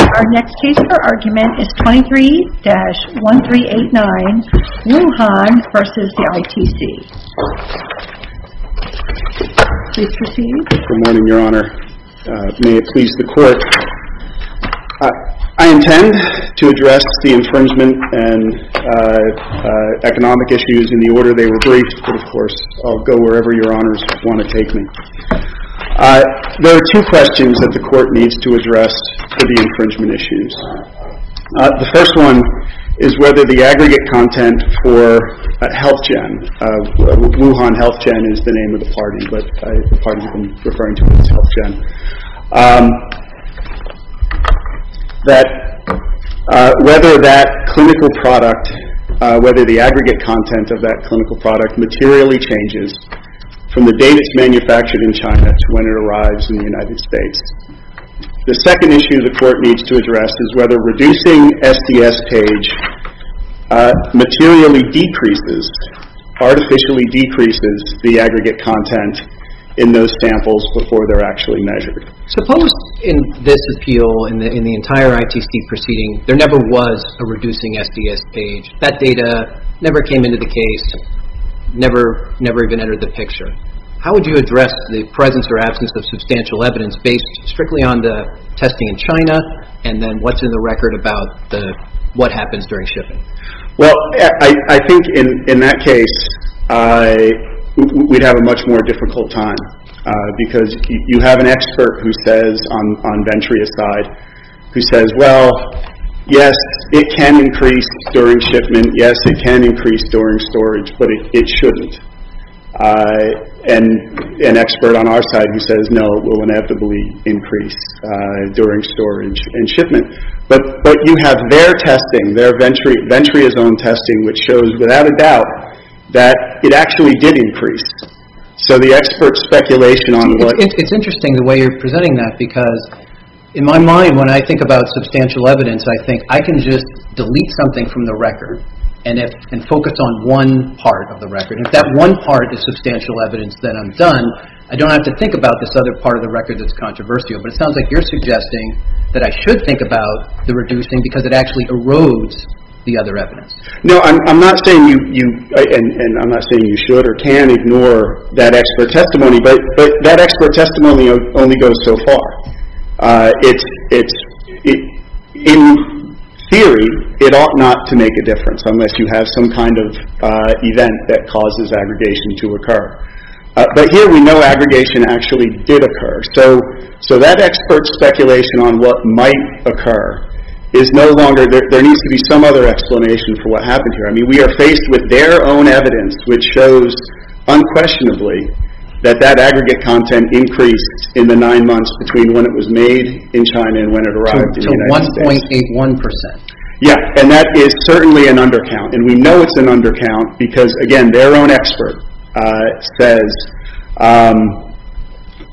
Our next case for argument is 23-1389, Wuhan v. ITC Please proceed Good morning, Your Honor. May it please the Court I intend to address the infringement and economic issues in the order they were briefed but of course, I'll go wherever Your Honors want to take me There are two questions that the Court needs to address for the infringement issues The first one is whether the aggregate content for Healthgen Wuhan Healthgen is the name of the party, but the party I'm referring to is Healthgen Whether that clinical product, whether the aggregate content of that clinical product materially changes from the date it's manufactured in China to when it arrives in the United States The second issue the Court needs to address is whether reducing SDS page materially decreases, artificially decreases the aggregate content in those samples before they're actually measured Suppose in this appeal, in the entire ITC proceeding, there never was a reducing SDS page That data never came into the case, never even entered the picture How would you address the presence or absence of substantial evidence based strictly on the testing in China and then what's in the record about what happens during shipping? Well, I think in that case, we'd have a much more difficult time You have an expert on Ventria's side who says, well, yes, it can increase during shipment Yes, it can increase during storage, but it shouldn't And an expert on our side who says, no, it will inevitably increase during storage and shipment But you have their testing, Ventria's own testing, which shows without a doubt that it actually did increase So the expert's speculation on what... It's interesting the way you're presenting that because in my mind, when I think about substantial evidence I think I can just delete something from the record and focus on one part of the record If that one part is substantial evidence, then I'm done I don't have to think about this other part of the record that's controversial But it sounds like you're suggesting that I should think about the reducing because it actually erodes the other evidence No, I'm not saying you should or can ignore that expert testimony But that expert testimony only goes so far In theory, it ought not to make a difference unless you have some kind of event that causes aggregation to occur But here we know aggregation actually did occur So that expert's speculation on what might occur is no longer... There needs to be some other explanation for what happened here We are faced with their own evidence which shows unquestionably that that aggregate content increased in the 9 months Between when it was made in China and when it arrived in the United States To 1.81% Yeah, and that is certainly an undercount And we know it's an undercount because again, their own expert says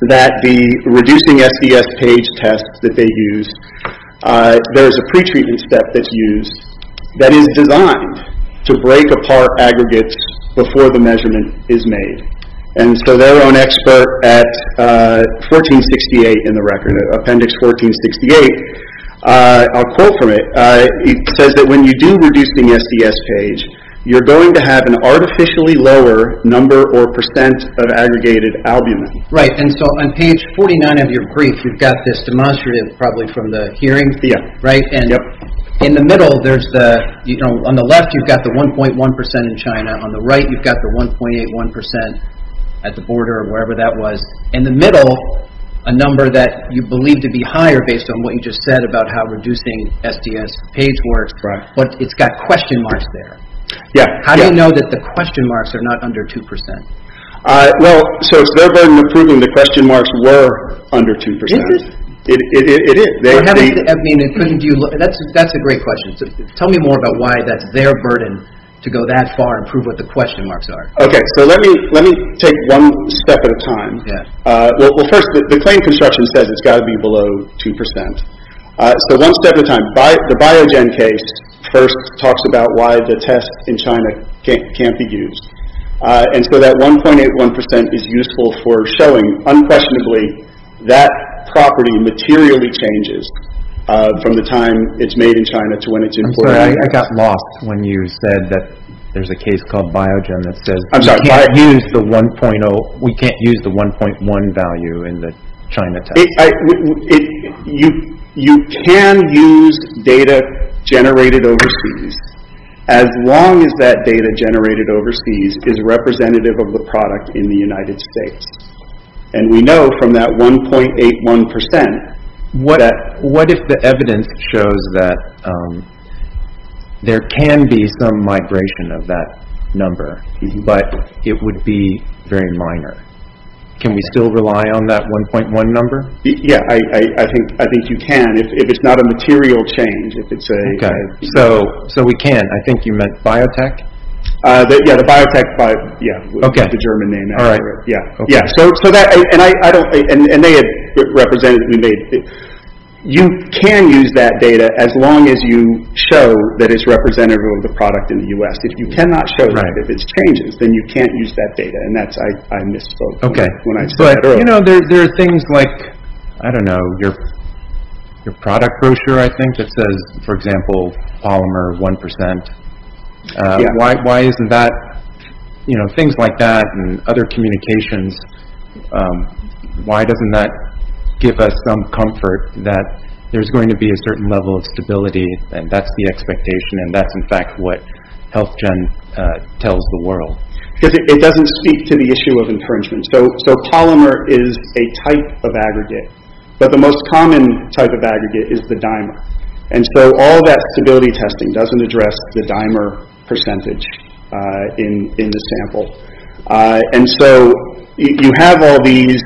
that the reducing SDS page test that they used There's a pretreatment step that's used that is designed to break apart aggregates before the measurement is made And so their own expert at 1468 in the record, appendix 1468 I'll quote from it It says that when you do reduce the SDS page You're going to have an artificially lower number or percent of aggregated albumin Right, and so on page 49 of your brief, you've got this demonstrative probably from the hearing And in the middle, on the left you've got the 1.1% in China On the right you've got the 1.81% at the border or wherever that was In the middle, a number that you believe to be higher based on what you just said about how reducing SDS page works But it's got question marks there Yeah How do you know that the question marks are not under 2%? Well, so it's their burden of proving the question marks were under 2% It is It is That's a great question Tell me more about why that's their burden to go that far and prove what the question marks are Okay, so let me take one step at a time Well first, the claim construction says it's got to be below 2% So one step at a time The Biogen case first talks about why the test in China can't be used And so that 1.81% is useful for showing, unquestionably, that property materially changes From the time it's made in China to when it's imported I got lost when you said that there's a case called Biogen that says we can't use the 1.1 value in the China test You can use data generated overseas As long as that data generated overseas is representative of the product in the United States And we know from that 1.81% What if the evidence shows that there can be some migration of that number But it would be very minor Can we still rely on that 1.1 number? Yeah, I think you can If it's not a material change Okay, so we can I think you meant Biotech Yeah, the Biotech That's the German name And they have represented You can use that data as long as you show that it's representative of the product in the U.S. If you cannot show that, if it changes, then you can't use that data And I misspoke when I said that earlier There are things like, I don't know, your product brochure, I think That says, for example, polymer 1% Why isn't that, you know, things like that and other communications Why doesn't that give us some comfort That there's going to be a certain level of stability And that's the expectation And that's in fact what HealthGen tells the world Because it doesn't speak to the issue of infringement So polymer is a type of aggregate But the most common type of aggregate is the dimer And so all that stability testing doesn't address the dimer percentage in the sample And so you have all these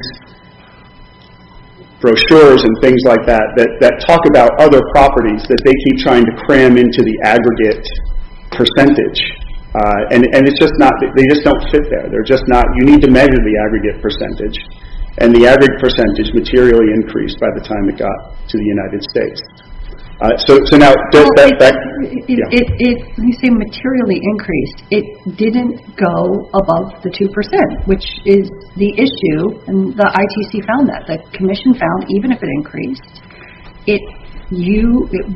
brochures and things like that That talk about other properties that they keep trying to cram into the aggregate percentage And it's just not, they just don't fit there You need to measure the aggregate percentage And the aggregate percentage materially increased by the time it got to the United States So now, does that... When you say materially increased, it didn't go above the 2% Which is the issue, and the ITC found that The commission found, even if it increased It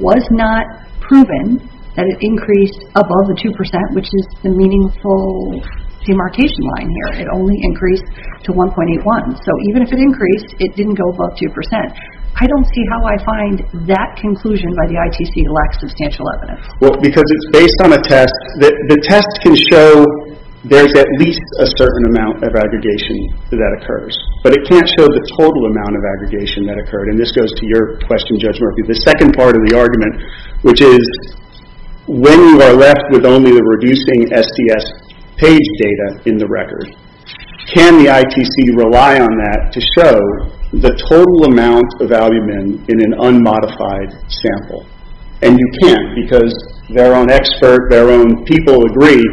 was not proven that it increased above the 2% Which is the meaningful demarcation line here It only increased to 1.81 So even if it increased, it didn't go above 2% I don't see how I find that conclusion by the ITC lacks substantial evidence Well, because it's based on a test The test can show there's at least a certain amount of aggregation that occurs But it can't show the total amount of aggregation that occurred And this goes to your question, Judge Murphy The second part of the argument, which is When you are left with only the reducing SDS page data in the record Can the ITC rely on that to show the total amount of albumin in an unmodified sample? And you can't, because their own expert, their own people agree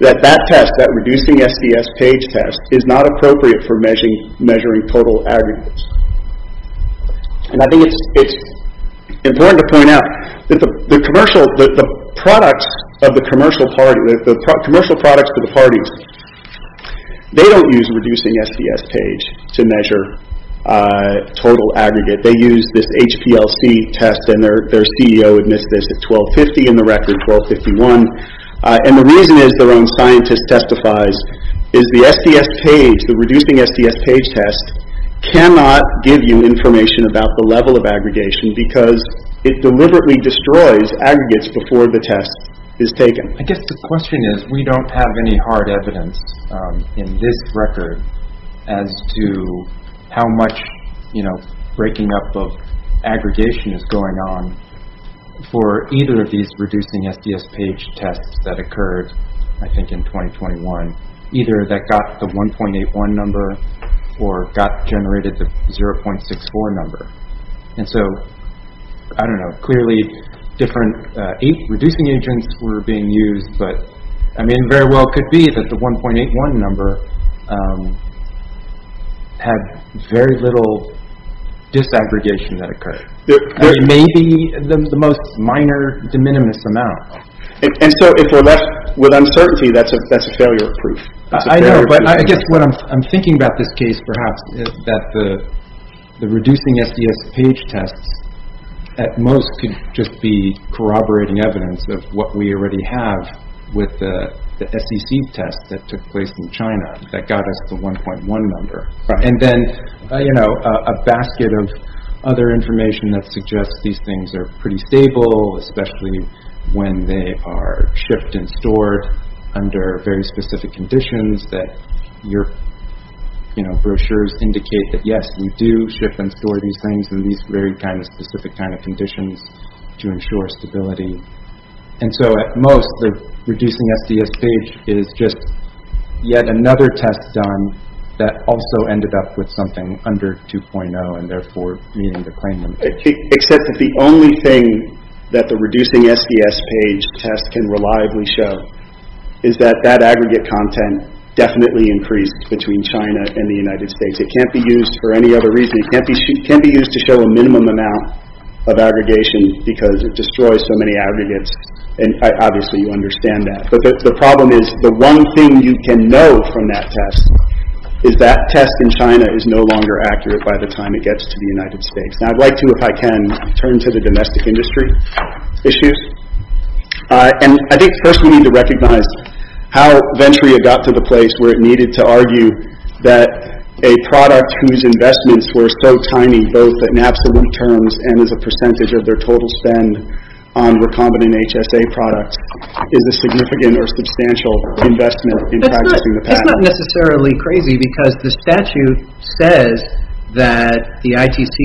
That that test, that reducing SDS page test Is not appropriate for measuring total aggregates And I think it's important to point out The commercial products for the parties They don't use reducing SDS page to measure total aggregate They use this HPLC test And their CEO admits this at 12.50 in the record, 12.51 And the reason is, their own scientist testifies Is the SDS page, the reducing SDS page test Cannot give you information about the level of aggregation Because it deliberately destroys aggregates before the test is taken I guess the question is We don't have any hard evidence in this record As to how much, you know, breaking up of aggregation is going on For either of these reducing SDS page tests that occurred I think in 2021 Either that got the 1.81 number Or got generated the 0.64 number And so, I don't know Clearly different reducing agents were being used But it very well could be that the 1.81 number Had very little disaggregation that occurred Maybe the most minor, de minimis amount And so if we're left with uncertainty That's a failure of proof I know, but I guess what I'm thinking about this case perhaps Is that the reducing SDS page tests At most could just be corroborating evidence Of what we already have With the SEC test that took place in China That got us the 1.1 number And then, you know, a basket of other information That suggests these things are pretty stable Especially when they are shipped and stored Under very specific conditions That your, you know, brochures indicate That yes, we do ship and store these things In these very kind of specific kind of conditions To ensure stability And so at most, the reducing SDS page Is just yet another test done That also ended up with something under 2.0 And therefore needing to claim them Except that the only thing That the reducing SDS page test can reliably show Is that that aggregate content Definitely increased between China and the United States It can't be used for any other reason It can't be used to show a minimum amount Of aggregation Because it destroys so many aggregates And obviously you understand that But the problem is The one thing you can know from that test Is that test in China is no longer accurate By the time it gets to the United States Now I'd like to, if I can Turn to the domestic industry issues And I think first we need to recognize How Venturia got to the place Where it needed to argue That a product whose investments Were so tiny both in absolute terms And as a percentage of their total spend On recombinant HSA products Is a significant or substantial investment In practicing the patent It's not necessarily crazy Because the statute says That the ITC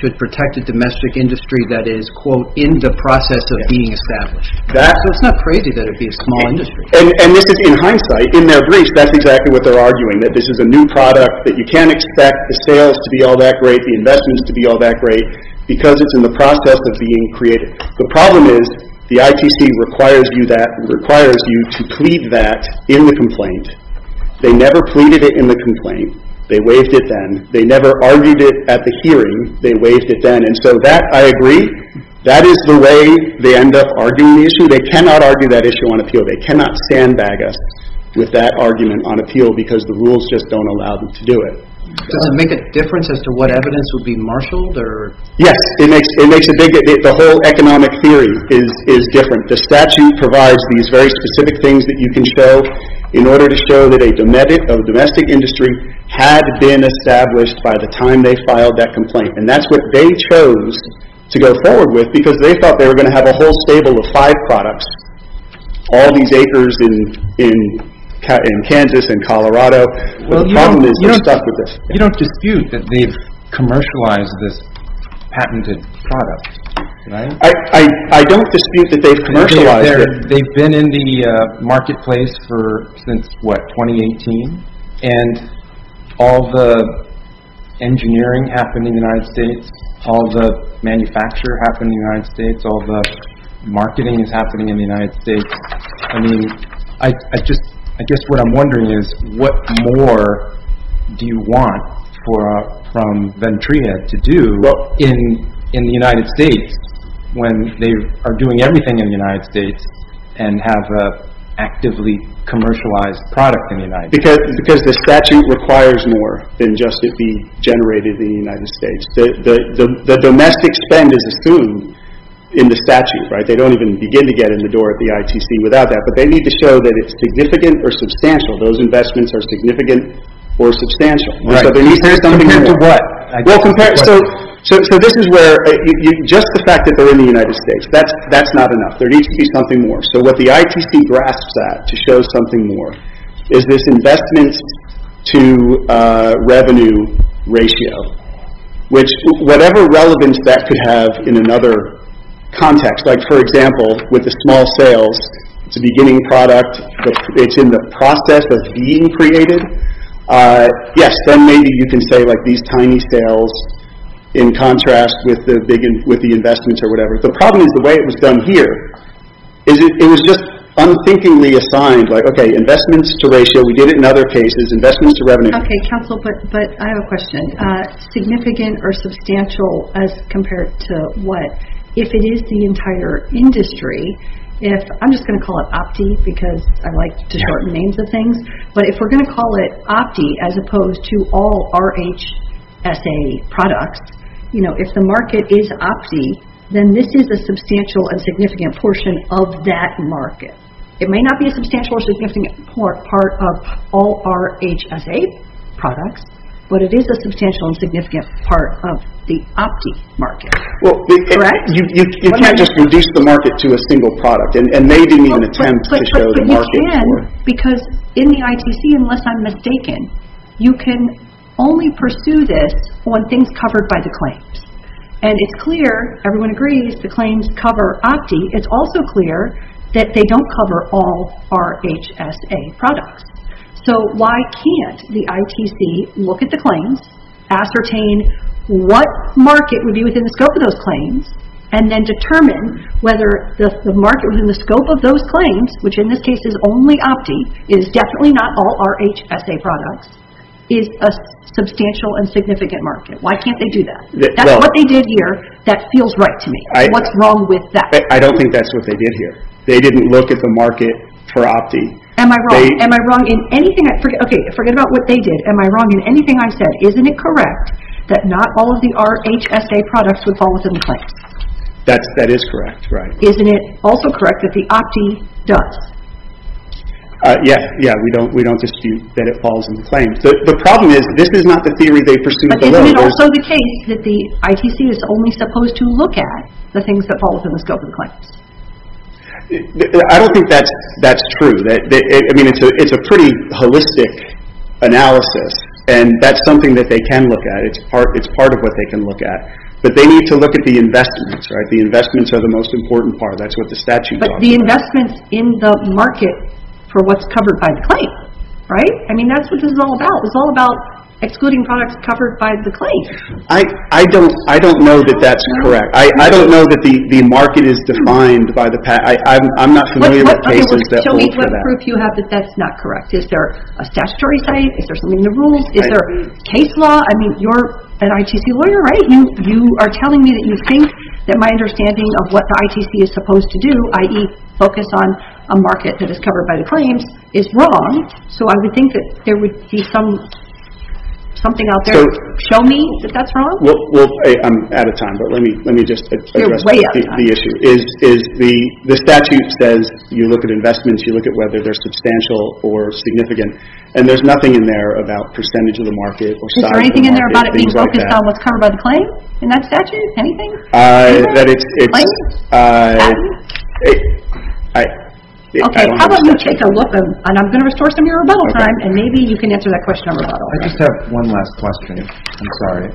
should protect the domestic industry That is in the process of being established So it's not crazy that it would be a small industry And this is in hindsight In their briefs That's exactly what they're arguing That this is a new product That you can't expect the sales to be all that great The investments to be all that great Because it's in the process of being created The problem is The ITC requires you to plead that In the complaint They never pleaded it in the complaint They waived it then They never argued it at the hearing They waived it then And so that, I agree That is the way they end up arguing the issue They cannot argue that issue on appeal They cannot sandbag us With that argument on appeal Because the rules just don't allow them to do it Does it make a difference As to what evidence would be marshaled? Yes, it makes a big difference The whole economic theory is different The statute provides these very specific things That you can show In order to show that a domestic industry Had been established By the time they filed that complaint And that's what they chose To go forward with Because they thought they were going to have A whole stable of five products All these acres in Kansas and Colorado The problem is they're stuck with this You don't dispute that they've commercialized This patented product, right? I don't dispute that they've commercialized it They've been in the marketplace for Since, what, 2018? And all the engineering happening in the United States All the manufacture happening in the United States All the marketing is happening in the United States I mean, I guess what I'm wondering is What more do you want from Ventria to do In the United States When they are doing everything in the United States And have an actively commercialized product Because the statute requires more Than just it be generated in the United States The domestic spend is assumed in the statute They don't even begin to get in the door At the ITC without that But they need to show That it's significant or substantial Those investments are significant or substantial So they need to do something more So this is where Just the fact that they're in the United States That's not enough There needs to be something more So what the ITC grasps at To show something more Is this investment to revenue ratio Which, whatever relevance that could have In another context Like, for example, with the small sales It's a beginning product It's in the process of being created Yes, then maybe you can say Like these tiny sales In contrast with the investments or whatever The problem is the way it was done here It was just unthinkingly assigned Okay, investments to ratio We did it in other cases Investments to revenue Okay, counsel, but I have a question Significant or substantial As compared to what? If it is the entire industry I'm just going to call it OPTI Because I like to shorten names of things But if we're going to call it OPTI As opposed to all RHSA products If the market is OPTI Then this is a substantial and significant portion Of that market It may not be a substantial or significant part Of all RHSA products But it is a substantial and significant part Of the OPTI market Well, you can't just reduce the market To a single product And maybe need an attempt To show the market But you can Because in the ITC Unless I'm mistaken You can only pursue this When things are covered by the claims And it's clear Everyone agrees The claims cover OPTI It's also clear That they don't cover all RHSA products So why can't the ITC Look at the claims Ascertain what market Would be within the scope of those claims And then determine Whether the market Within the scope of those claims Which in this case is only OPTI Is definitely not all RHSA products Is a substantial and significant market Why can't they do that? That's what they did here That feels right to me What's wrong with that? I don't think that's what they did here They didn't look at the market for OPTI Am I wrong? Am I wrong in anything? Forget about what they did Am I wrong in anything I said? Isn't it correct That not all of the RHSA products Would fall within the claims? That is correct, right Isn't it also correct That the OPTI does? Yeah, yeah We don't dispute That it falls within the claims The problem is This is not the theory They pursued at the level But isn't it also the case That the ITC Is only supposed to look at The things that fall within The scope of the claims I don't think that's true I mean it's a pretty holistic analysis And that's something That they can look at It's part of what they can look at But they need to look at The investments, right The investments are the most important part That's what the statute says But the investments in the market For what's covered by the claim Right? I mean that's what this is all about It's all about excluding products Covered by the claim I don't know that that's correct I don't know that the market Is defined by the patent I'm not familiar with cases That hold for that What proof do you have That that's not correct Is there a statutory site Is there something in the rules Is there case law I mean you're an ITC lawyer, right You are telling me That you think That my understanding Of what the ITC Is supposed to do I.e. focus on a market That is covered by the claims Is wrong So I would think That there would be Something out there To show me that that's wrong I'm out of time But let me just address You're way out of time The issue is The statute says You look at investments You look at whether They're substantial Or significant And there's nothing in there About percentage of the market Or size of the market Is there anything in there About it being focused On what's covered by the claim In that statute Anything? I That it's I I Okay How about you take a look And I'm going to restore Some of your rebuttal time And maybe you can answer That question on rebuttal I just have one last question I'm sorry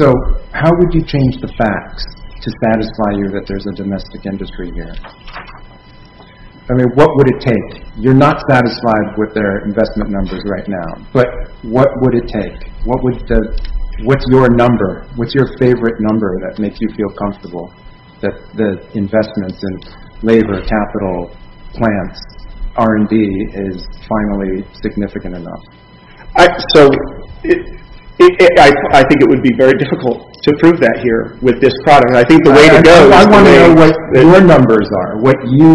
So I How would you change the facts To satisfy you That there's a domestic industry here I mean what would it take You're not satisfied With their investment numbers right now But what would it take What would the What's your number What's your favorite number That makes you feel comfortable That the investments And labor capital Plants R&D Is finally significant enough I So It It I I I I I I I I I Am Not On part On part On part Part Part On part Part I I I Option Option Option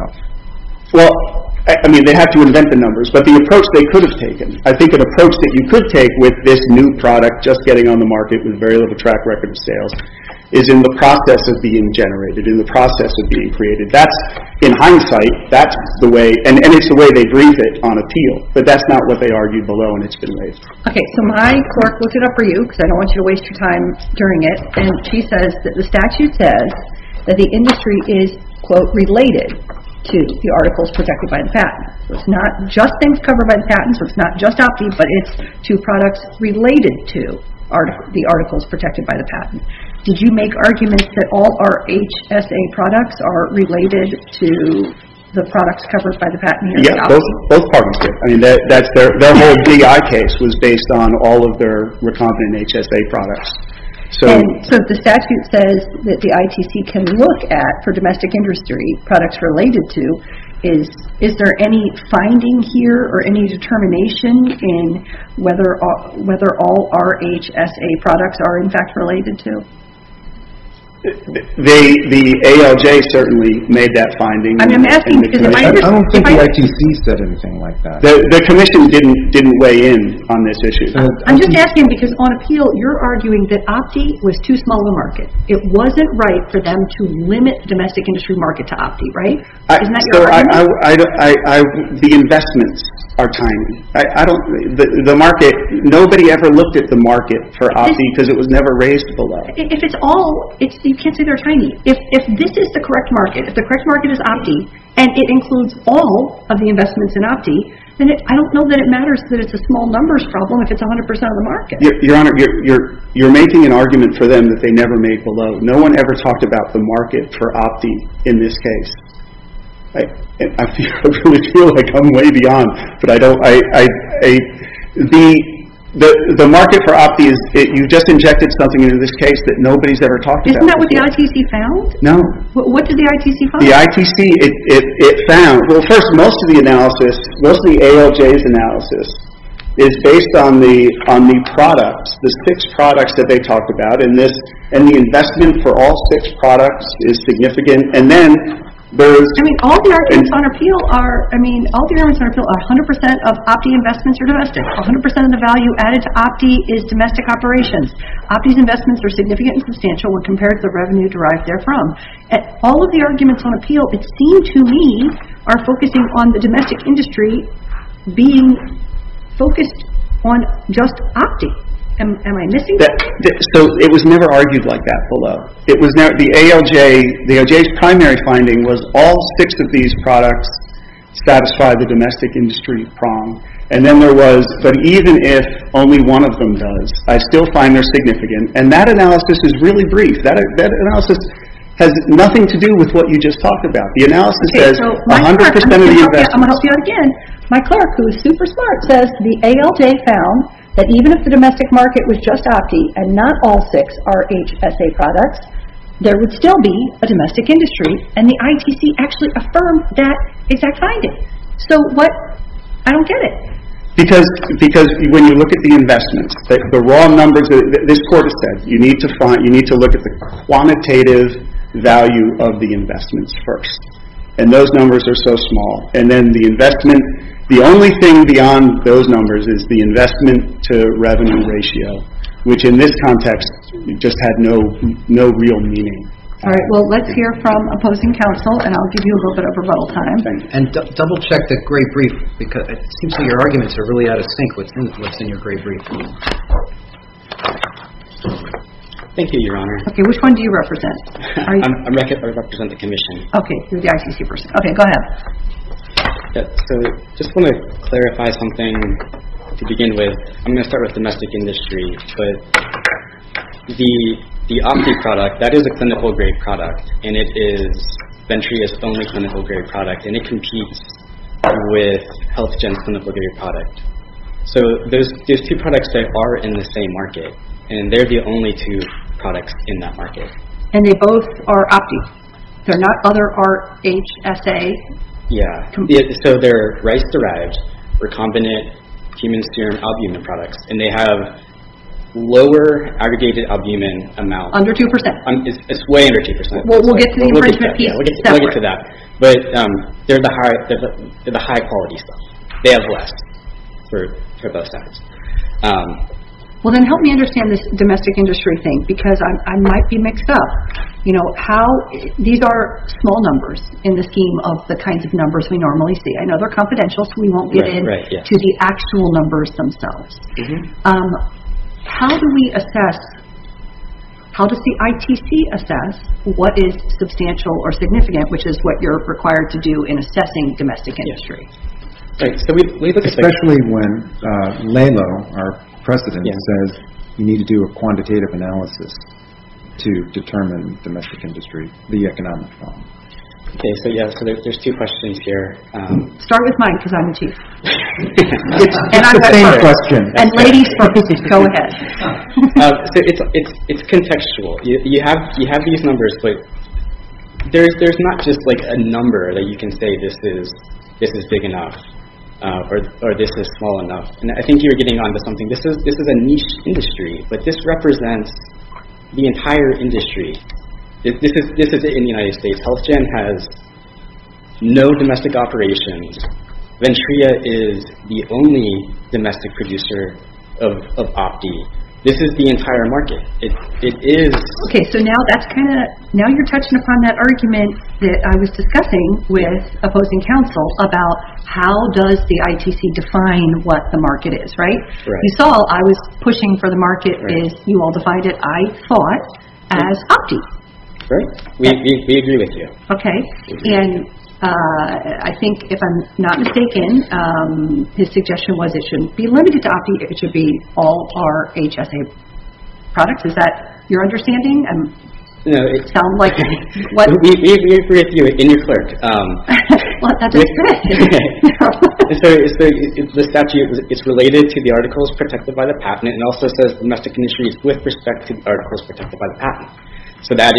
Option Option I'm just asking because on appeal you're arguing that Optie was too small of a market. It wasn't right for them to limit the domestic industry market to Optie, right? Isn't that your argument? The investments are tiny. The market, nobody ever looked at the market for Optie because it was never raised below. If it's all, you can't say they're tiny. If this is the correct market, if the correct market is Optie and it includes all of the investments in Optie, then I don't know that it matters that it's a small numbers problem if it's 100% of the market. Your Honor, you're making an argument for them that they never made below. No one ever talked about the market for Optie in this case. I feel like I'm way beyond. The market for Optie, you just injected something into this case that nobody's ever talked about. Isn't that what the ITC found? No. What did the ITC find? Well, first, most of the analysis, mostly ALJ's analysis, is based on the products, the fixed products that they talked about, and the investment for all fixed products is significant. I mean, all the arguments on appeal are 100% of Optie investments are domestic. 100% of the value added to Optie is domestic operations. Optie's investments are significant and substantial when compared to the revenue derived therefrom. All of the arguments on appeal, it seemed to me, are focusing on the domestic industry being focused on just Optie. Am I missing something? So, it was never argued like that below. The ALJ's primary finding was all fixed of these products satisfy the domestic industry prong, and then there was, but even if only one of them does, I still find they're significant, and that analysis is really brief. That analysis has nothing to do with what you just talked about. The analysis says 100% of the investments... I'm going to help you out again. My clerk, who is super smart, says the ALJ found that even if the domestic market was just Optie, and not all six are HSA products, there would still be a domestic industry, and the ITC actually affirmed that exact finding. So, what? I don't get it. Because when you look at the investments, the raw numbers, this court has said, you need to look at the quantitative value of the investments first, and those numbers are so small. And then the investment, the only thing beyond those numbers is the investment to revenue ratio, which in this context just had no real meaning. All right. Well, let's hear from opposing counsel, and I'll give you a little bit of rebuttal time. Thank you. And double check the gray brief, because it seems like your arguments are really out of sync with what's in your gray brief. Thank you, Your Honor. Okay. Which one do you represent? I represent the commission. Okay. You're the ITC person. Okay. Go ahead. So, just want to clarify something to begin with. I'm going to start with domestic industry. The Optie product, that is a clinical grade product, and it is Venturi's only clinical grade product, and it competes with HealthGen's clinical grade product. So, there's two products that are in the same market, and they're the only two products in that market. And they both are Optie. They're not other R-H-S-A? Yeah. So, they're rice-derived recombinant human serum albumin products, and they have lower aggregated albumin amounts. Under 2%. It's way under 2%. We'll get to the infringement piece separately. We'll get to that. But they're the high-quality stuff. They have less for both sides. Well, then help me understand this domestic industry thing, because I might be mixed up. These are small numbers in the scheme of the kinds of numbers we normally see. I know they're confidential, so we won't get into the actual numbers themselves. How do we assess? How does the ITC assess what is substantial or significant, which is what you're required to do in assessing domestic industry? Especially when Lalo, our president, says you need to do a quantitative analysis to determine domestic industry, the economic problem. Okay, so there's two questions here. Start with mine, because I'm the chief. It's the same question. And ladies first. Go ahead. It's contextual. You have these numbers, but there's not just a number that you can say this is big enough or this is small enough. I think you're getting onto something. This is a niche industry, but this represents the entire industry. This is it in the United States. HealthGen has no domestic operations. Ventria is the only domestic producer of Opti. This is the entire market. Okay, so now you're touching upon that argument that I was discussing with opposing counsel about how does the ITC define what the market is, right? Right. You saw I was pushing for the market as you all defined it, I thought, as Opti. Right. We agree with you. Okay. And I think, if I'm not mistaken, his suggestion was it shouldn't be limited to Opti. It should be all our HSA products. Is that your understanding? No. It sounds like... We agree with you and your clerk. Well, that's a good thing. The statute is related to the articles protected by the patent and also says domestic industries with respect to the articles protected by the patent. So that's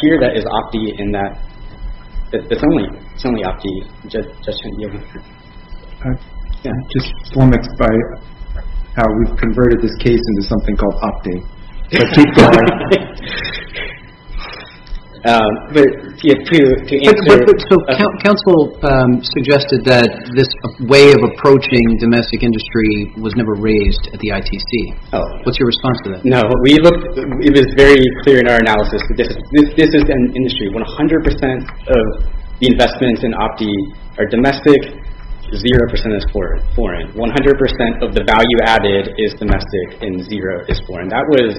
here, that is Opti, and that's only Opti. I'm just flummoxed by how we've converted this case into something called Opti. But to answer... Counsel suggested that this way of approaching domestic industry was never raised at the ITC. Oh. What's your response to that? No. It was very clear in our analysis that this is an industry where 100% of the investments in Opti are domestic, 0% is foreign. 100% of the value added is domestic and 0% is foreign. That was...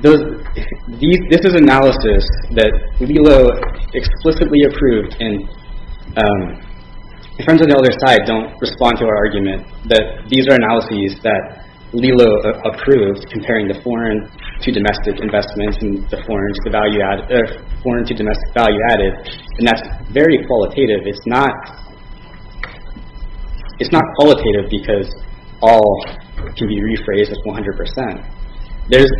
This is analysis that LELO explicitly approved. And friends on the other side don't respond to our argument that these are analyses that LELO approved comparing the foreign to domestic investments and the foreign to domestic value added. And that's very qualitative. It's not qualitative because all can be rephrased as 100%. There's...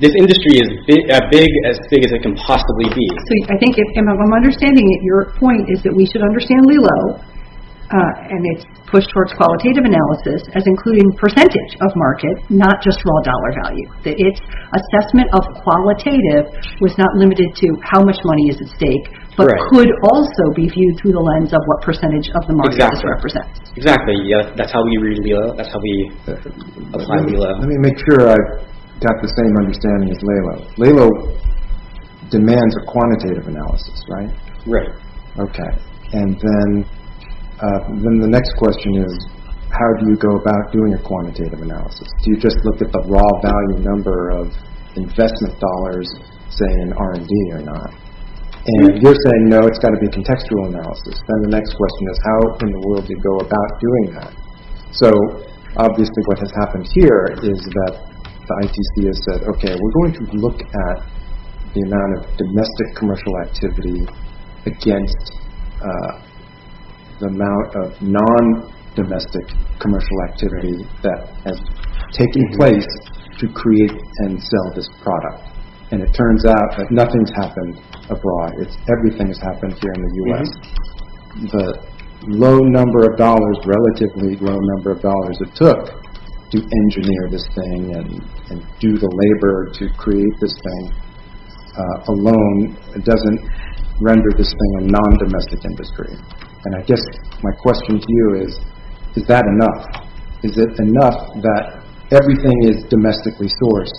This industry is as big as it can possibly be. I think if... I'm understanding that your point is that we should understand LELO and its push towards qualitative analysis as including percentage of market, not just raw dollar value. Its assessment of qualitative was not limited to how much money is at stake, but could also be viewed through the lens of what percentage of the market is represented. Exactly. That's how we read LELO. That's how we apply LELO. Let me make sure I've got the same understanding as LELO. LELO demands a quantitative analysis, right? Right. Okay. And then the next question is how do you go about doing a quantitative analysis? Do you just look at the raw value number of investment dollars, say, in R&D or not? And you're saying, no, it's got to be contextual analysis. Then the next question is how in the world do you go about doing that? So obviously what has happened here is that the ITC has said, okay, we're going to look at the amount of domestic commercial activity against the amount of non-domestic commercial activity that has taken place to create and sell this product. And it turns out that nothing's happened abroad. Everything has happened here in the U.S. The low number of dollars, relatively low number of dollars it took to engineer this thing and do the labor to create this thing alone doesn't render this thing a non-domestic industry. And I guess my question to you is, is that enough? Is it enough that everything is domestically sourced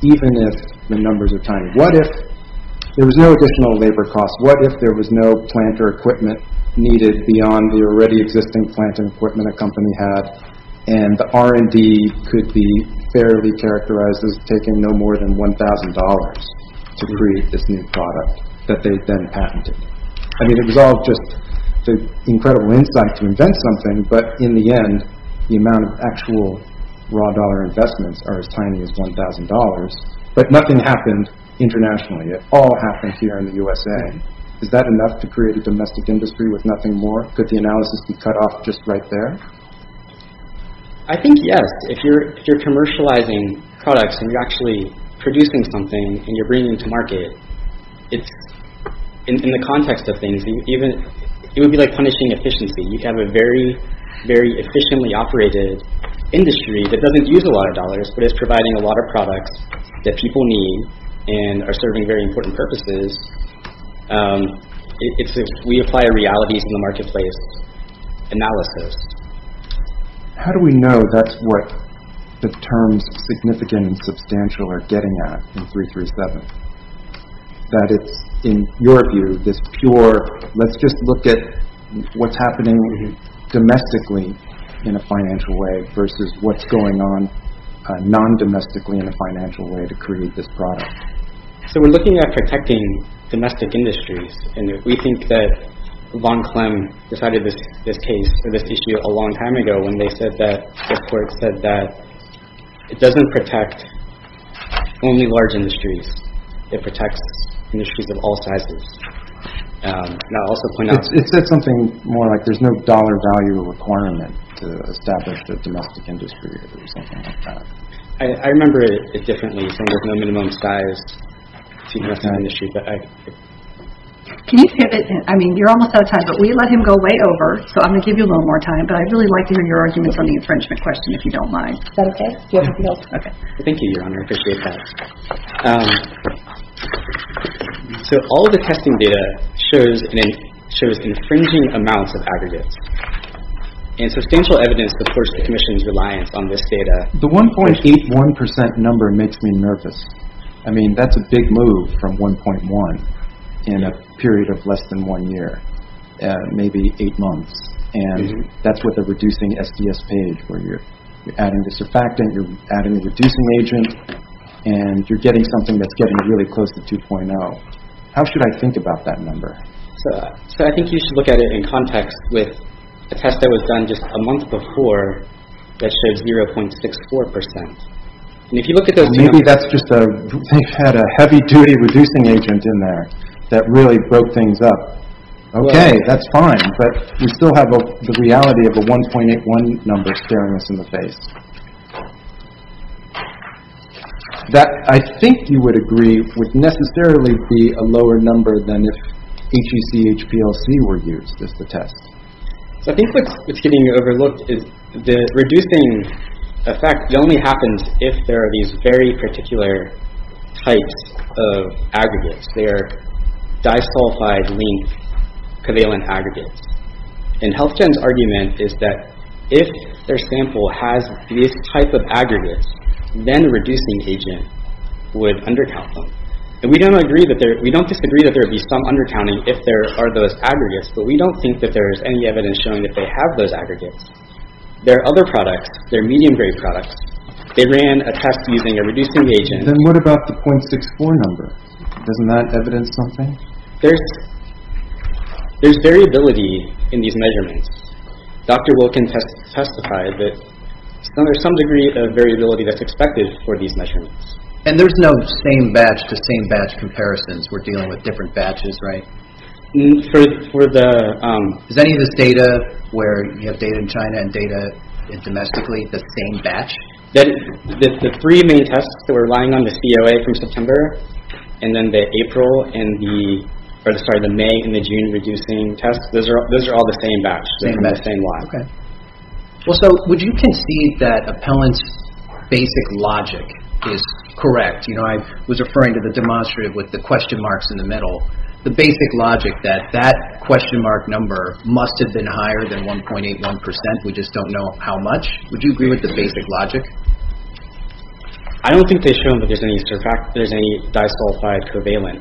even if the numbers are tiny? What if there was no additional labor costs? What if there was no plant or equipment needed beyond the already existing plant and equipment a company had and the R&D could be fairly characterized as taking no more than $1,000 to create this new product that they then patented? I mean, it was all just the incredible insight to invent something, but in the end the amount of actual raw dollar investments are as tiny as $1,000. But nothing happened internationally. It all happened here in the USA. Is that enough to create a domestic industry with nothing more? Could the analysis be cut off just right there? I think yes. If you're commercializing products and you're actually producing something and you're bringing it to market, in the context of things, it would be like punishing efficiency. You have a very, very efficiently operated industry that doesn't use a lot of dollars but is providing a lot of products that people need and are serving very important purposes. It's if we apply a reality to the marketplace analysis. How do we know that's what the terms significant and substantial are getting at in 337? That it's, in your view, this pure, let's just look at what's happening domestically in a financial way versus what's going on non-domestically in a financial way to create this product? So we're looking at protecting domestic industries. We think that von Klemm decided this issue a long time ago when the court said that it doesn't protect only large industries. It protects industries of all sizes. It said something more like there's no dollar value requirement to establish a domestic industry or something like that. I remember it differently. It said there's no minimum size to invest in an industry. Can you pivot? I mean, you're almost out of time, but will you let him go way over? So I'm going to give you a little more time, but I'd really like to hear your arguments on the infringement question, if you don't mind. Is that okay? Do you have anything else? Thank you, Your Honor. I appreciate that. So all of the testing data shows infringing amounts of aggregates. And substantial evidence, of course, commissions reliance on this data. The 1.81% number makes me nervous. I mean, that's a big move from 1.1 in a period of less than one year, maybe eight months. And that's with a reducing SDS page where you're adding the surfactant, you're adding the reducing agent, and you're getting something that's getting really close to 2.0. How should I think about that number? So I think you should look at it in context with a test that was done just a month before that shows 0.64%. And if you look at those numbers. Maybe that's just a heavy-duty reducing agent in there that really broke things up. Okay, that's fine, but we still have the reality of a 1.81 number staring us in the face. That, I think you would agree, would necessarily be a lower number than if HECHPLC were used as the test. So I think what's getting overlooked is the reducing effect only happens if there are these very particular types of aggregates. They are disulfide-linked covalent aggregates. And HealthGen's argument is that if their sample has these type of aggregates, then a reducing agent would undercount them. And we don't disagree that there would be some undercounting if there are those aggregates, but we don't think that there is any evidence showing that they have those aggregates. Their other products, their medium-grade products, they ran a test using a reducing agent. Then what about the 0.64 number? Doesn't that evidence something? There's variability in these measurements. Dr. Wilkin testified that there's some degree of variability that's expected for these measurements. And there's no same-batch to same-batch comparisons. We're dealing with different batches, right? Is any of this data where you have data in China and data domestically the same batch? The three main tests that were relying on the COA from September and then the April and the May and the June reducing tests, those are all the same batch. Would you concede that Appellant's basic logic is correct? I was referring to the demonstrative with the question marks in the middle. The basic logic that that question mark number must have been higher than 1.81%. We just don't know how much. Would you agree with the basic logic? I don't think they've shown that there's any disqualified covalent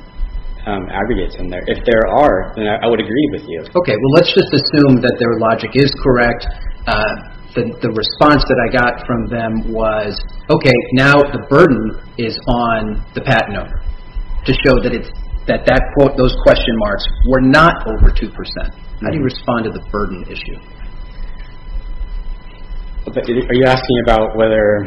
aggregates in there. If there are, then I would agree with you. Okay, well, let's just assume that their logic is correct. The response that I got from them was, okay, now the burden is on the patent owner to show that those question marks were not over 2%. How do you respond to the burden issue? Are you asking about whether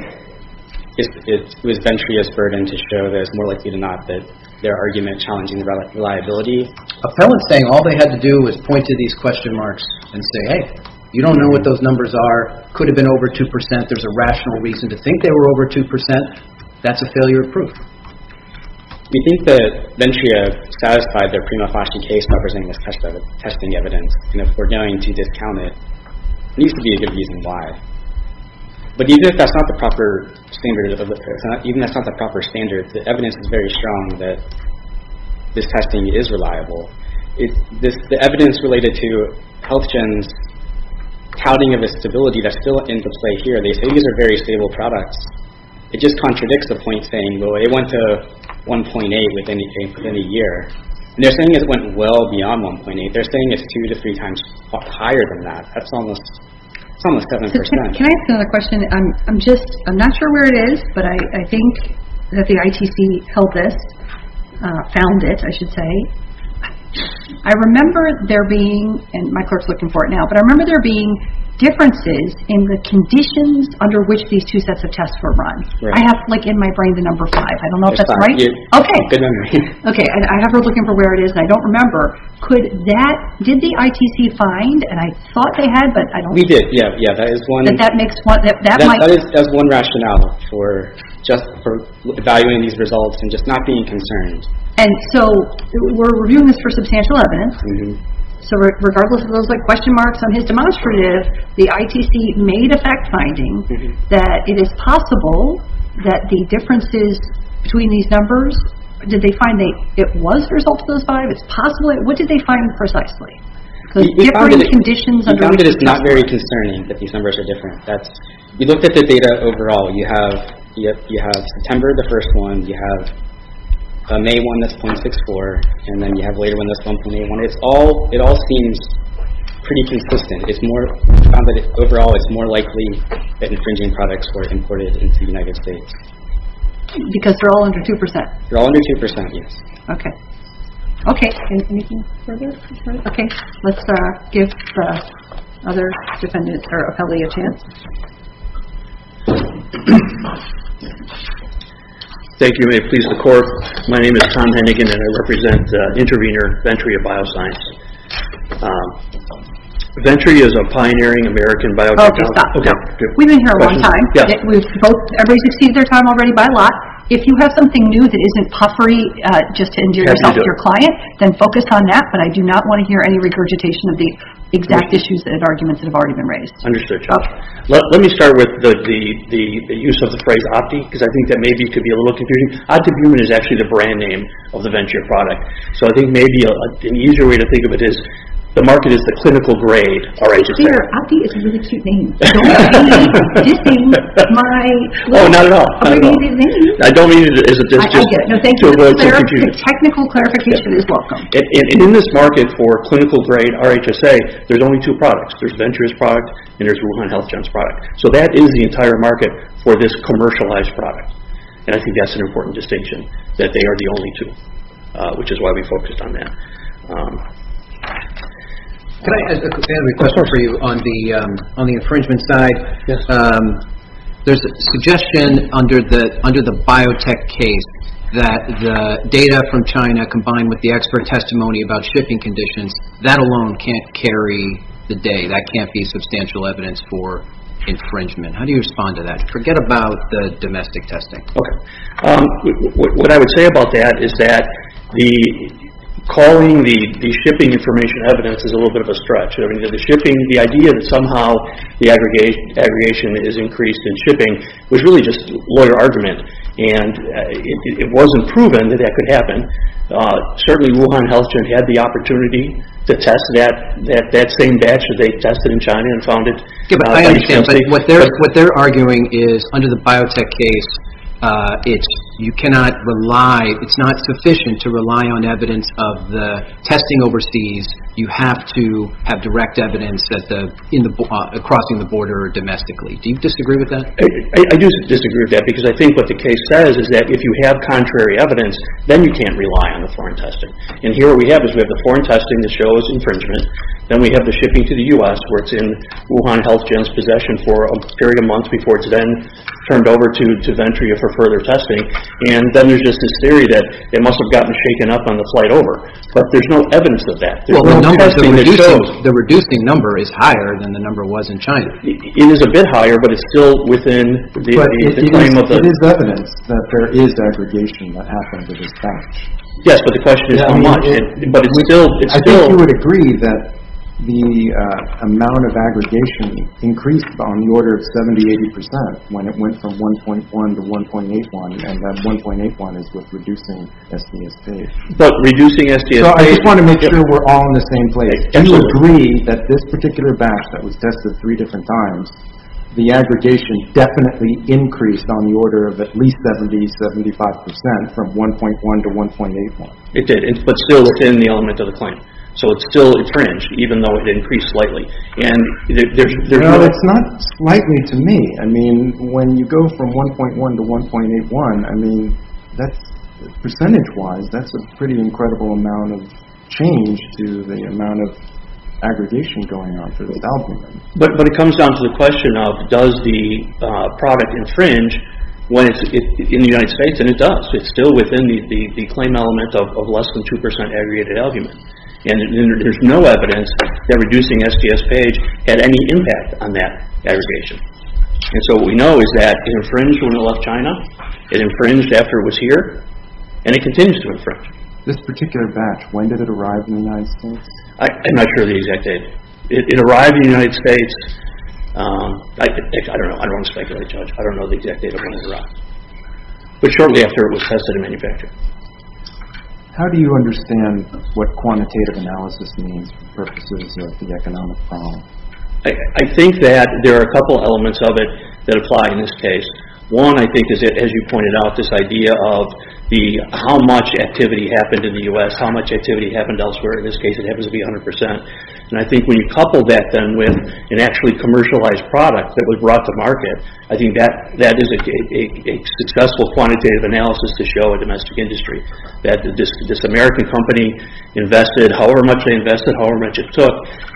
it was Ventria's burden to show that it's more likely than not that their argument challenging the reliability? Appellant's saying all they had to do was point to these question marks and say, hey, you don't know what those numbers are. It could have been over 2%. There's a rational reason to think they were over 2%. That's a failure of proof. We think that Ventria satisfied their prima facie case by presenting this testing evidence. And if we're going to discount it, there needs to be a good reason why. But even if that's not the proper standard of evidence, the evidence is very strong that this testing is reliable. The evidence related to HealthGen's touting of a stability that's still into play here, they say these are very stable products. It just contradicts the point saying, well, it went to 1.8% within a year. They're saying it went well beyond 1.8%. They're saying it's 2 to 3 times higher than that. That's almost 7%. Can I ask another question? I'm not sure where it is, but I think that the ITC held this, found it, I should say. I remember there being, and my clerk's looking for it now, but I remember there being differences in the conditions under which these two sets of tests were run. I have in my brain the number five. I don't know if that's right. Good memory. Okay, I have her looking for where it is, and I don't remember. Did the ITC find, and I thought they had, but I don't remember. We did, yeah. That is one rationale for just evaluating these results and just not being concerned. And so we're reviewing this for substantial evidence, so regardless of those question marks on his demonstrative, the ITC made a fact finding that it is possible that the differences between these numbers, did they find that it was a result of those five? It's possible, what did they find precisely? The different conditions under which the tests were run. We found that it's not very concerning that these numbers are different. We looked at the data overall. You have September, the first one. You have May won this .64, and then you have later won this .81. It all seems pretty consistent. We found that overall it's more likely that infringing products were imported into the United States. Because they're all under 2%. They're all under 2%, yes. Okay. Okay. Anything further? Okay. Let's give the other defendants, or appellee, a chance. Thank you. May it please the court. My name is Tom Hennigan, and I represent intervener Venturi of Bioscience. Venturi is a pioneering American biotech company. Okay, stop. We've been here a long time. Everybody's exceeded their time already by a lot. If you have something new that isn't puffery, just to injure yourself or your client, then focus on that. But I do not want to hear any regurgitation of the exact issues and arguments that have already been raised. Understood, Chuck. Let me start with the use of the phrase Opti, because I think that maybe could be a little confusing. OptiBuhmann is actually the brand name of the Venturi product. So I think maybe an easier way to think of it is the market is the clinical grade. Opti is a really cute name. Don't be disdaining my little abbreviated name. I don't mean it as a disdain. I get it. No, thank you. A technical clarification is welcome. And in this market for clinical grade RHSA, there's only two products. There's Venturi's product, and there's Wuhan Health Gen's product. So that is the entire market for this commercialized product. And I think that's an important distinction, that they are the only two, which is why we focused on that. Can I ask a question for you on the infringement side? There's a suggestion under the biotech case that the data from China combined with the expert testimony about shipping conditions, that alone can't carry the day. That can't be substantial evidence for infringement. How do you respond to that? Forget about the domestic testing. Okay. What I would say about that is that calling the shipping information evidence is a little bit of a stretch. The idea that somehow the aggregation is increased in shipping was really just a lawyer argument. And it wasn't proven that that could happen. Certainly, Wuhan Health Gen had the opportunity to test that same batch that they tested in China and found it. I understand, but what they're arguing is under the biotech case, it's not sufficient to rely on evidence of the testing overseas. You have to have direct evidence crossing the border domestically. Do you disagree with that? I do disagree with that, because I think what the case says is that if you have contrary evidence, then you can't rely on the foreign testing. And here what we have is we have the foreign testing that shows infringement. Then we have the shipping to the U.S. where it's in Wuhan Health Gen's possession for a period of months before it's then turned over to Venturia for further testing. And then there's just this theory that it must have gotten shaken up on the flight over. But there's no evidence of that. Well, the number, the reducing number is higher than the number was in China. It is a bit higher, but it's still within the frame of the... But it is evidence that there is aggregation that happened with this batch. Yes, but the question is how much. I think you would agree that the amount of aggregation increased on the order of 70-80% when it went from 1.1 to 1.81, and that 1.81 is with reducing STS-K. But reducing STS-K... I just want to make sure we're all in the same place. Do you agree that this particular batch that was tested three different times, the aggregation definitely increased on the order of at least 70-75% from 1.1 to 1.81? It did, but still within the element of the claim. So it's still infringed, even though it increased slightly. No, it's not slightly to me. I mean, when you go from 1.1 to 1.81, I mean, percentage-wise, that's a pretty incredible amount of change to the amount of aggregation going on for those algorithms. But it comes down to the question of does the product infringe when it's in the United States, and it does. It's still within the claim element of less than 2% aggregated algument. And there's no evidence that reducing SPS-PAGE had any impact on that aggregation. And so what we know is that it infringed when it left China, it infringed after it was here, and it continues to infringe. This particular batch, when did it arrive in the United States? I'm not sure of the exact date. It arrived in the United States... I don't want to speculate, Judge. I don't know the exact date of when it arrived. But shortly after it was tested and manufactured. How do you understand what quantitative analysis means for purposes of the economic problem? I think that there are a couple elements of it that apply in this case. One, I think, as you pointed out, this idea of how much activity happened in the U.S., how much activity happened elsewhere. In this case, it happens to be 100%. And I think when you couple that then with an actually commercialized product that was brought to market, I think that is a successful quantitative analysis to show a domestic industry. That this American company invested however much they invested, however much it took.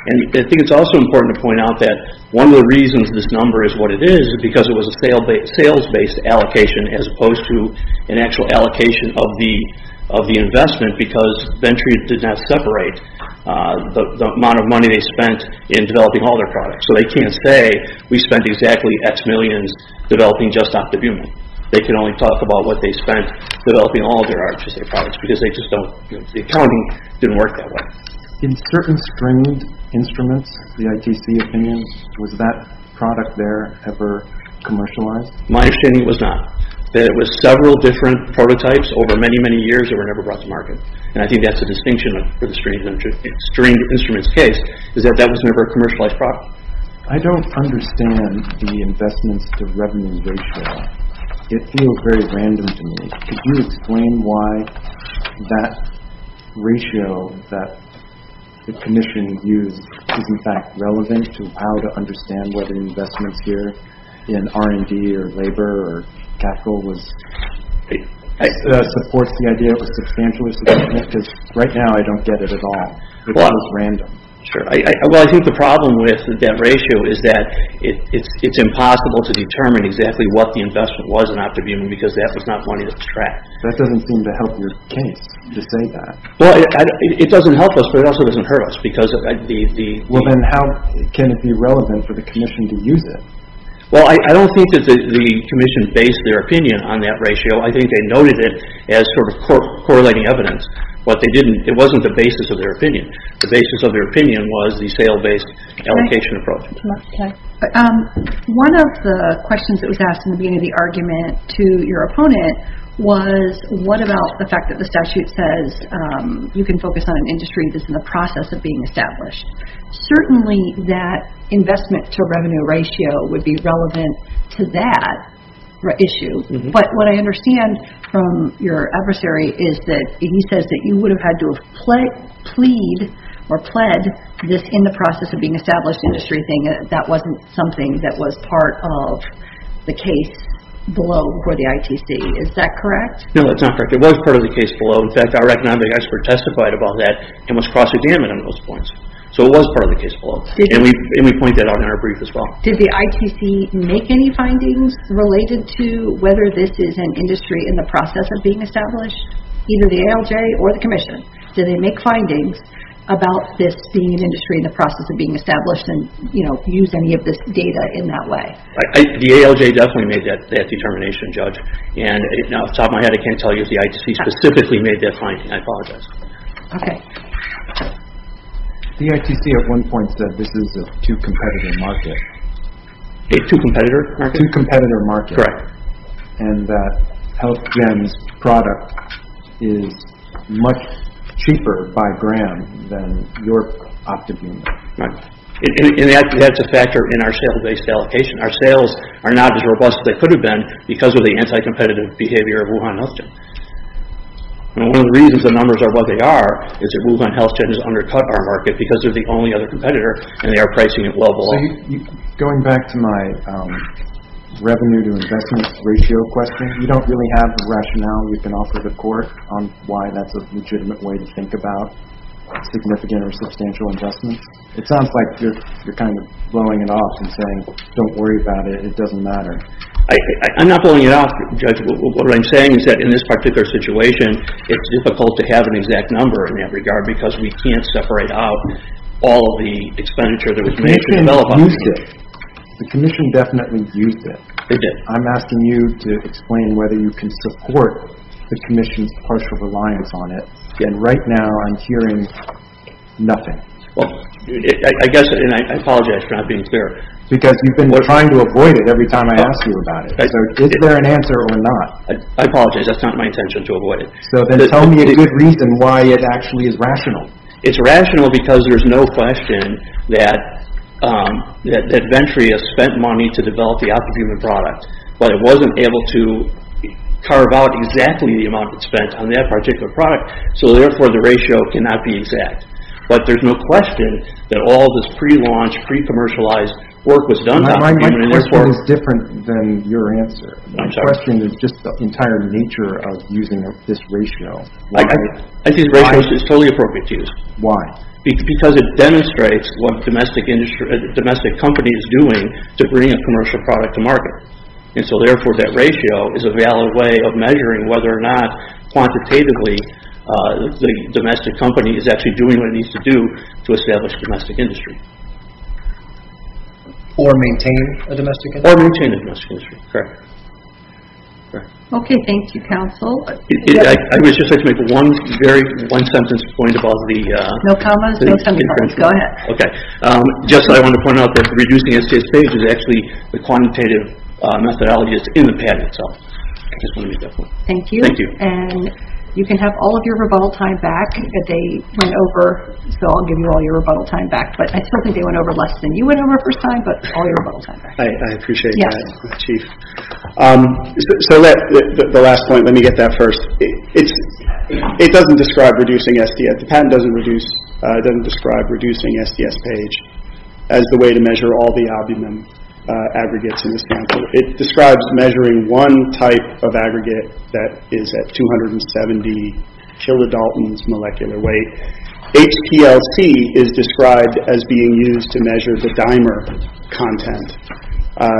And I think it's also important to point out that one of the reasons this number is what it is is because it was a sales-based allocation as opposed to an actual allocation of the investment because Venturi did not separate the amount of money they spent in developing all their products. So they can't say, we spent exactly X millions developing just Octobuman. They can only talk about what they spent developing all their products because the accounting didn't work that way. In certain stringed instruments, the ITC opinions, was that product there ever commercialized? My understanding was not. There were several different prototypes over many, many years that were never brought to market. And I think that's a distinction for the stringed instruments case, is that that was never a commercialized product. I don't understand the investments to revenue ratio. It feels very random to me. Could you explain why that ratio that the commission used is in fact relevant to how to understand whether investments here in R&D or labor or capital supports the idea of a substantial investment? Because right now, I don't get it at all. It's random. Well, I think the problem with that ratio is that it's impossible to determine exactly what the investment was in Octobuman because that was not money that was tracked. That doesn't seem to help your case to say that. Well, it doesn't help us, but it also doesn't hurt us. Well, then how can it be relevant for the commission to use it? Well, I don't think that the commission based their opinion on that ratio. I think they noted it as sort of correlating evidence. What they didn't, it wasn't the basis of their opinion. The basis of their opinion was the sale-based allocation approach. One of the questions that was asked in the beginning of the argument to your opponent was what about the fact that the statute says you can focus on an industry that's in the process of being established. Certainly, that investment to revenue ratio would be relevant to that issue. But what I understand from your adversary is that he says that you would have had to have plead or pled this in the process of being established industry thing. That wasn't something that was part of the case below for the ITC. Is that correct? No, that's not correct. It was part of the case below. In fact, our economic expert testified about that and was cross-examined on those points. So, it was part of the case below. We pointed that out in our brief as well. Did the ITC make any findings related to whether this is an industry in the process of being established? Either the ALJ or the commission, did they make findings about this being an industry in the process of being established and use any of this data in that way? The ALJ definitely made that determination, Judge. Now, off the top of my head, I can't tell you if the ITC specifically made that finding. I apologize. Okay. The ITC, at one point, said this is a two-competitor market. A two-competitor market? A two-competitor market. And that HealthGen's product is much cheaper by gram than your opt-in unit. Right. And that's a factor in our sale-based allocation. Our sales are not as robust as they could have been because of the anti-competitive behavior of Wuhan HealthGen. One of the reasons the numbers are what they are is that Wuhan HealthGen has undercut our market because they're the only other competitor and they are pricing it well below. Going back to my revenue-to-investment ratio question, you don't really have the rationale we can offer the court on why that's a legitimate way to think about significant or substantial investments? It sounds like you're kind of blowing it off and saying, don't worry about it. It doesn't matter. I'm not blowing it off, Judge. What I'm saying is that in this particular situation, it's difficult to have an exact number in that regard because we can't separate out all the expenditure that we can develop on it. The Commission used it. The Commission definitely used it. They did. I'm asking you to explain whether you can support the Commission's partial reliance on it. And right now, I'm hearing nothing. Well, I guess, and I apologize for not being fair. Because you've been trying to avoid it every time I ask you about it. So is there an answer or not? I apologize. That's not my intention to avoid it. So then tell me a good reason why it actually is rational. It's rational because there's no question that Ventria spent money to develop the optimum product. But it wasn't able to carve out exactly the amount it spent on that particular product. So therefore, the ratio cannot be exact. But there's no question that all this pre-launch, pre-commercialized work was done. My question is different than your answer. I'm sorry. My question is just the entire nature of using this ratio. I think the ratio is totally appropriate to use. Why? Because it demonstrates what a domestic company is doing to bring a commercial product to And so therefore, that ratio is a valid way of measuring whether or not quantitatively the domestic company is actually doing what it needs to do to establish a domestic industry. Or maintain a domestic industry. Or maintain a domestic industry. Okay. Thank you, counsel. I would just like to make one very, one sentence point about the No commas. No commas. Go ahead. Okay. Just I want to point out that reducing SDS-PAGE is actually the quantitative methodology that's in the patent. So I just want to make that point. Thank you. Thank you. And you can have all of your rebuttal time back. They went over. So I'll give you all your rebuttal time back. But I certainly think they went over less than you went over the first time. But all your rebuttal time back. I appreciate that. So let, the last point. Let me get that first. It doesn't describe reducing SDS. The patent doesn't reduce, doesn't describe reducing SDS-PAGE as the way to measure all the albumin aggregates in the sample. It describes measuring one type of aggregate that is at 270 kilodaltons molecular weight. HPLC is described as being used to measure the dimer content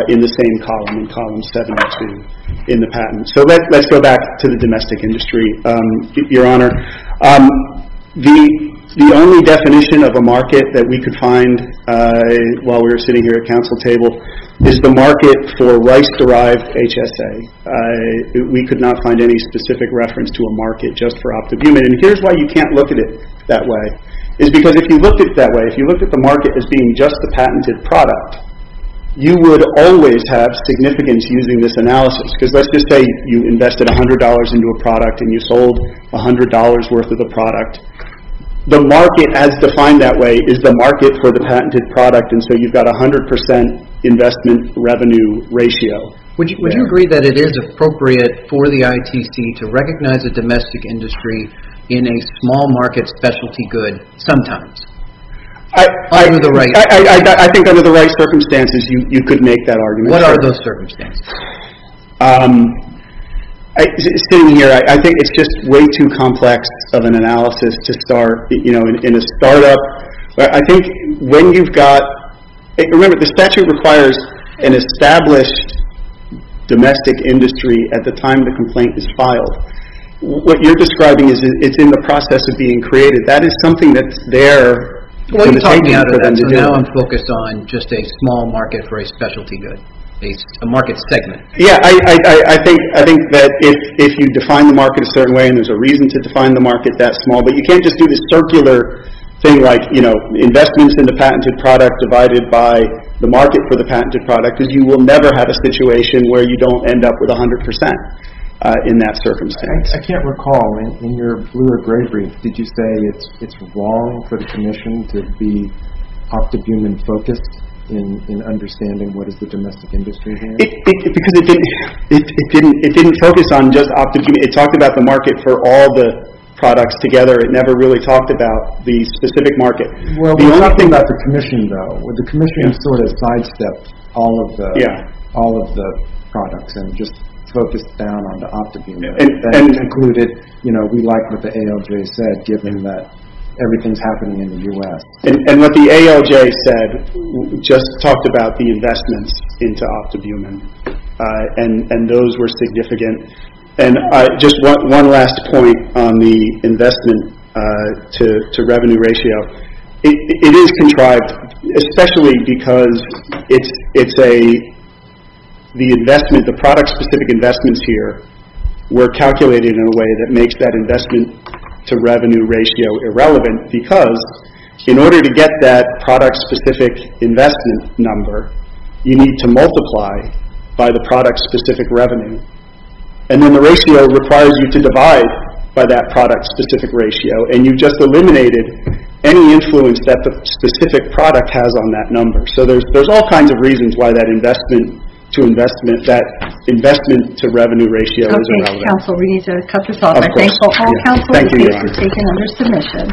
in the same column, in column 7.2 in the patent. So let's go back to the domestic industry, Your Honor. The only definition of a market that we could find while we were sitting here at council table is the market for rice-derived HSA. We could not find any specific reference to a market just for optobumin. And here's why you can't look at it that way. It's because if you looked at it that way, if you looked at the market as being just the patented product, you would always have significance using this analysis. Because let's just say you invested $100 into a product and you sold $100 worth of the product. The market as defined that way is the market for the patented product. And so you've got 100% investment revenue ratio. Would you agree that it is appropriate for the ITC to recognize a domestic industry in a small market specialty good sometimes? I think under the right circumstances you could make that argument. What are those circumstances? Sitting here, I think it's just way too complex of an analysis to start in a startup. I think when you've got, remember the statute requires an established domestic industry at the time the complaint is filed. What you're describing is in the process of being created. That is something that's there for them to do. Now I'm focused on just a small market for a specialty good, a market segment. Yeah, I think that if you define the market a certain way and there's a reason to define the market that small. But you can't just do this circular thing like investments in the patented product divided by the market for the patented product. Because you will never have a situation where you don't end up with 100% in that circumstance. I can't recall, in your bluer gray brief, did you say it's wrong for the commission to be octogumen focused in understanding what is the domestic industry here? Because it didn't focus on just octogumen. It talked about the market for all the products together. It never really talked about the specific market. There's something about the commission though. The commission sort of sidestepped all of the products and just focused down on the octogumen. And concluded we like what the ALJ said given that everything's happening in the US. And what the ALJ said just talked about the investments into octogumen. And those were significant. And just one last point on the investment to revenue ratio. It is contrived, especially because the product specific investments here were calculated in a way that makes that investment to revenue ratio irrelevant. Because in order to get that product specific investment number, you need to multiply by the product specific revenue. And then the ratio requires you to divide by that product specific ratio. And you've just eliminated any influence that the specific product has on that number. So there's all kinds of reasons why that investment to revenue ratio is irrelevant. Thank you, counsel. We need to cut this off. I thank all counsel for taking under submission.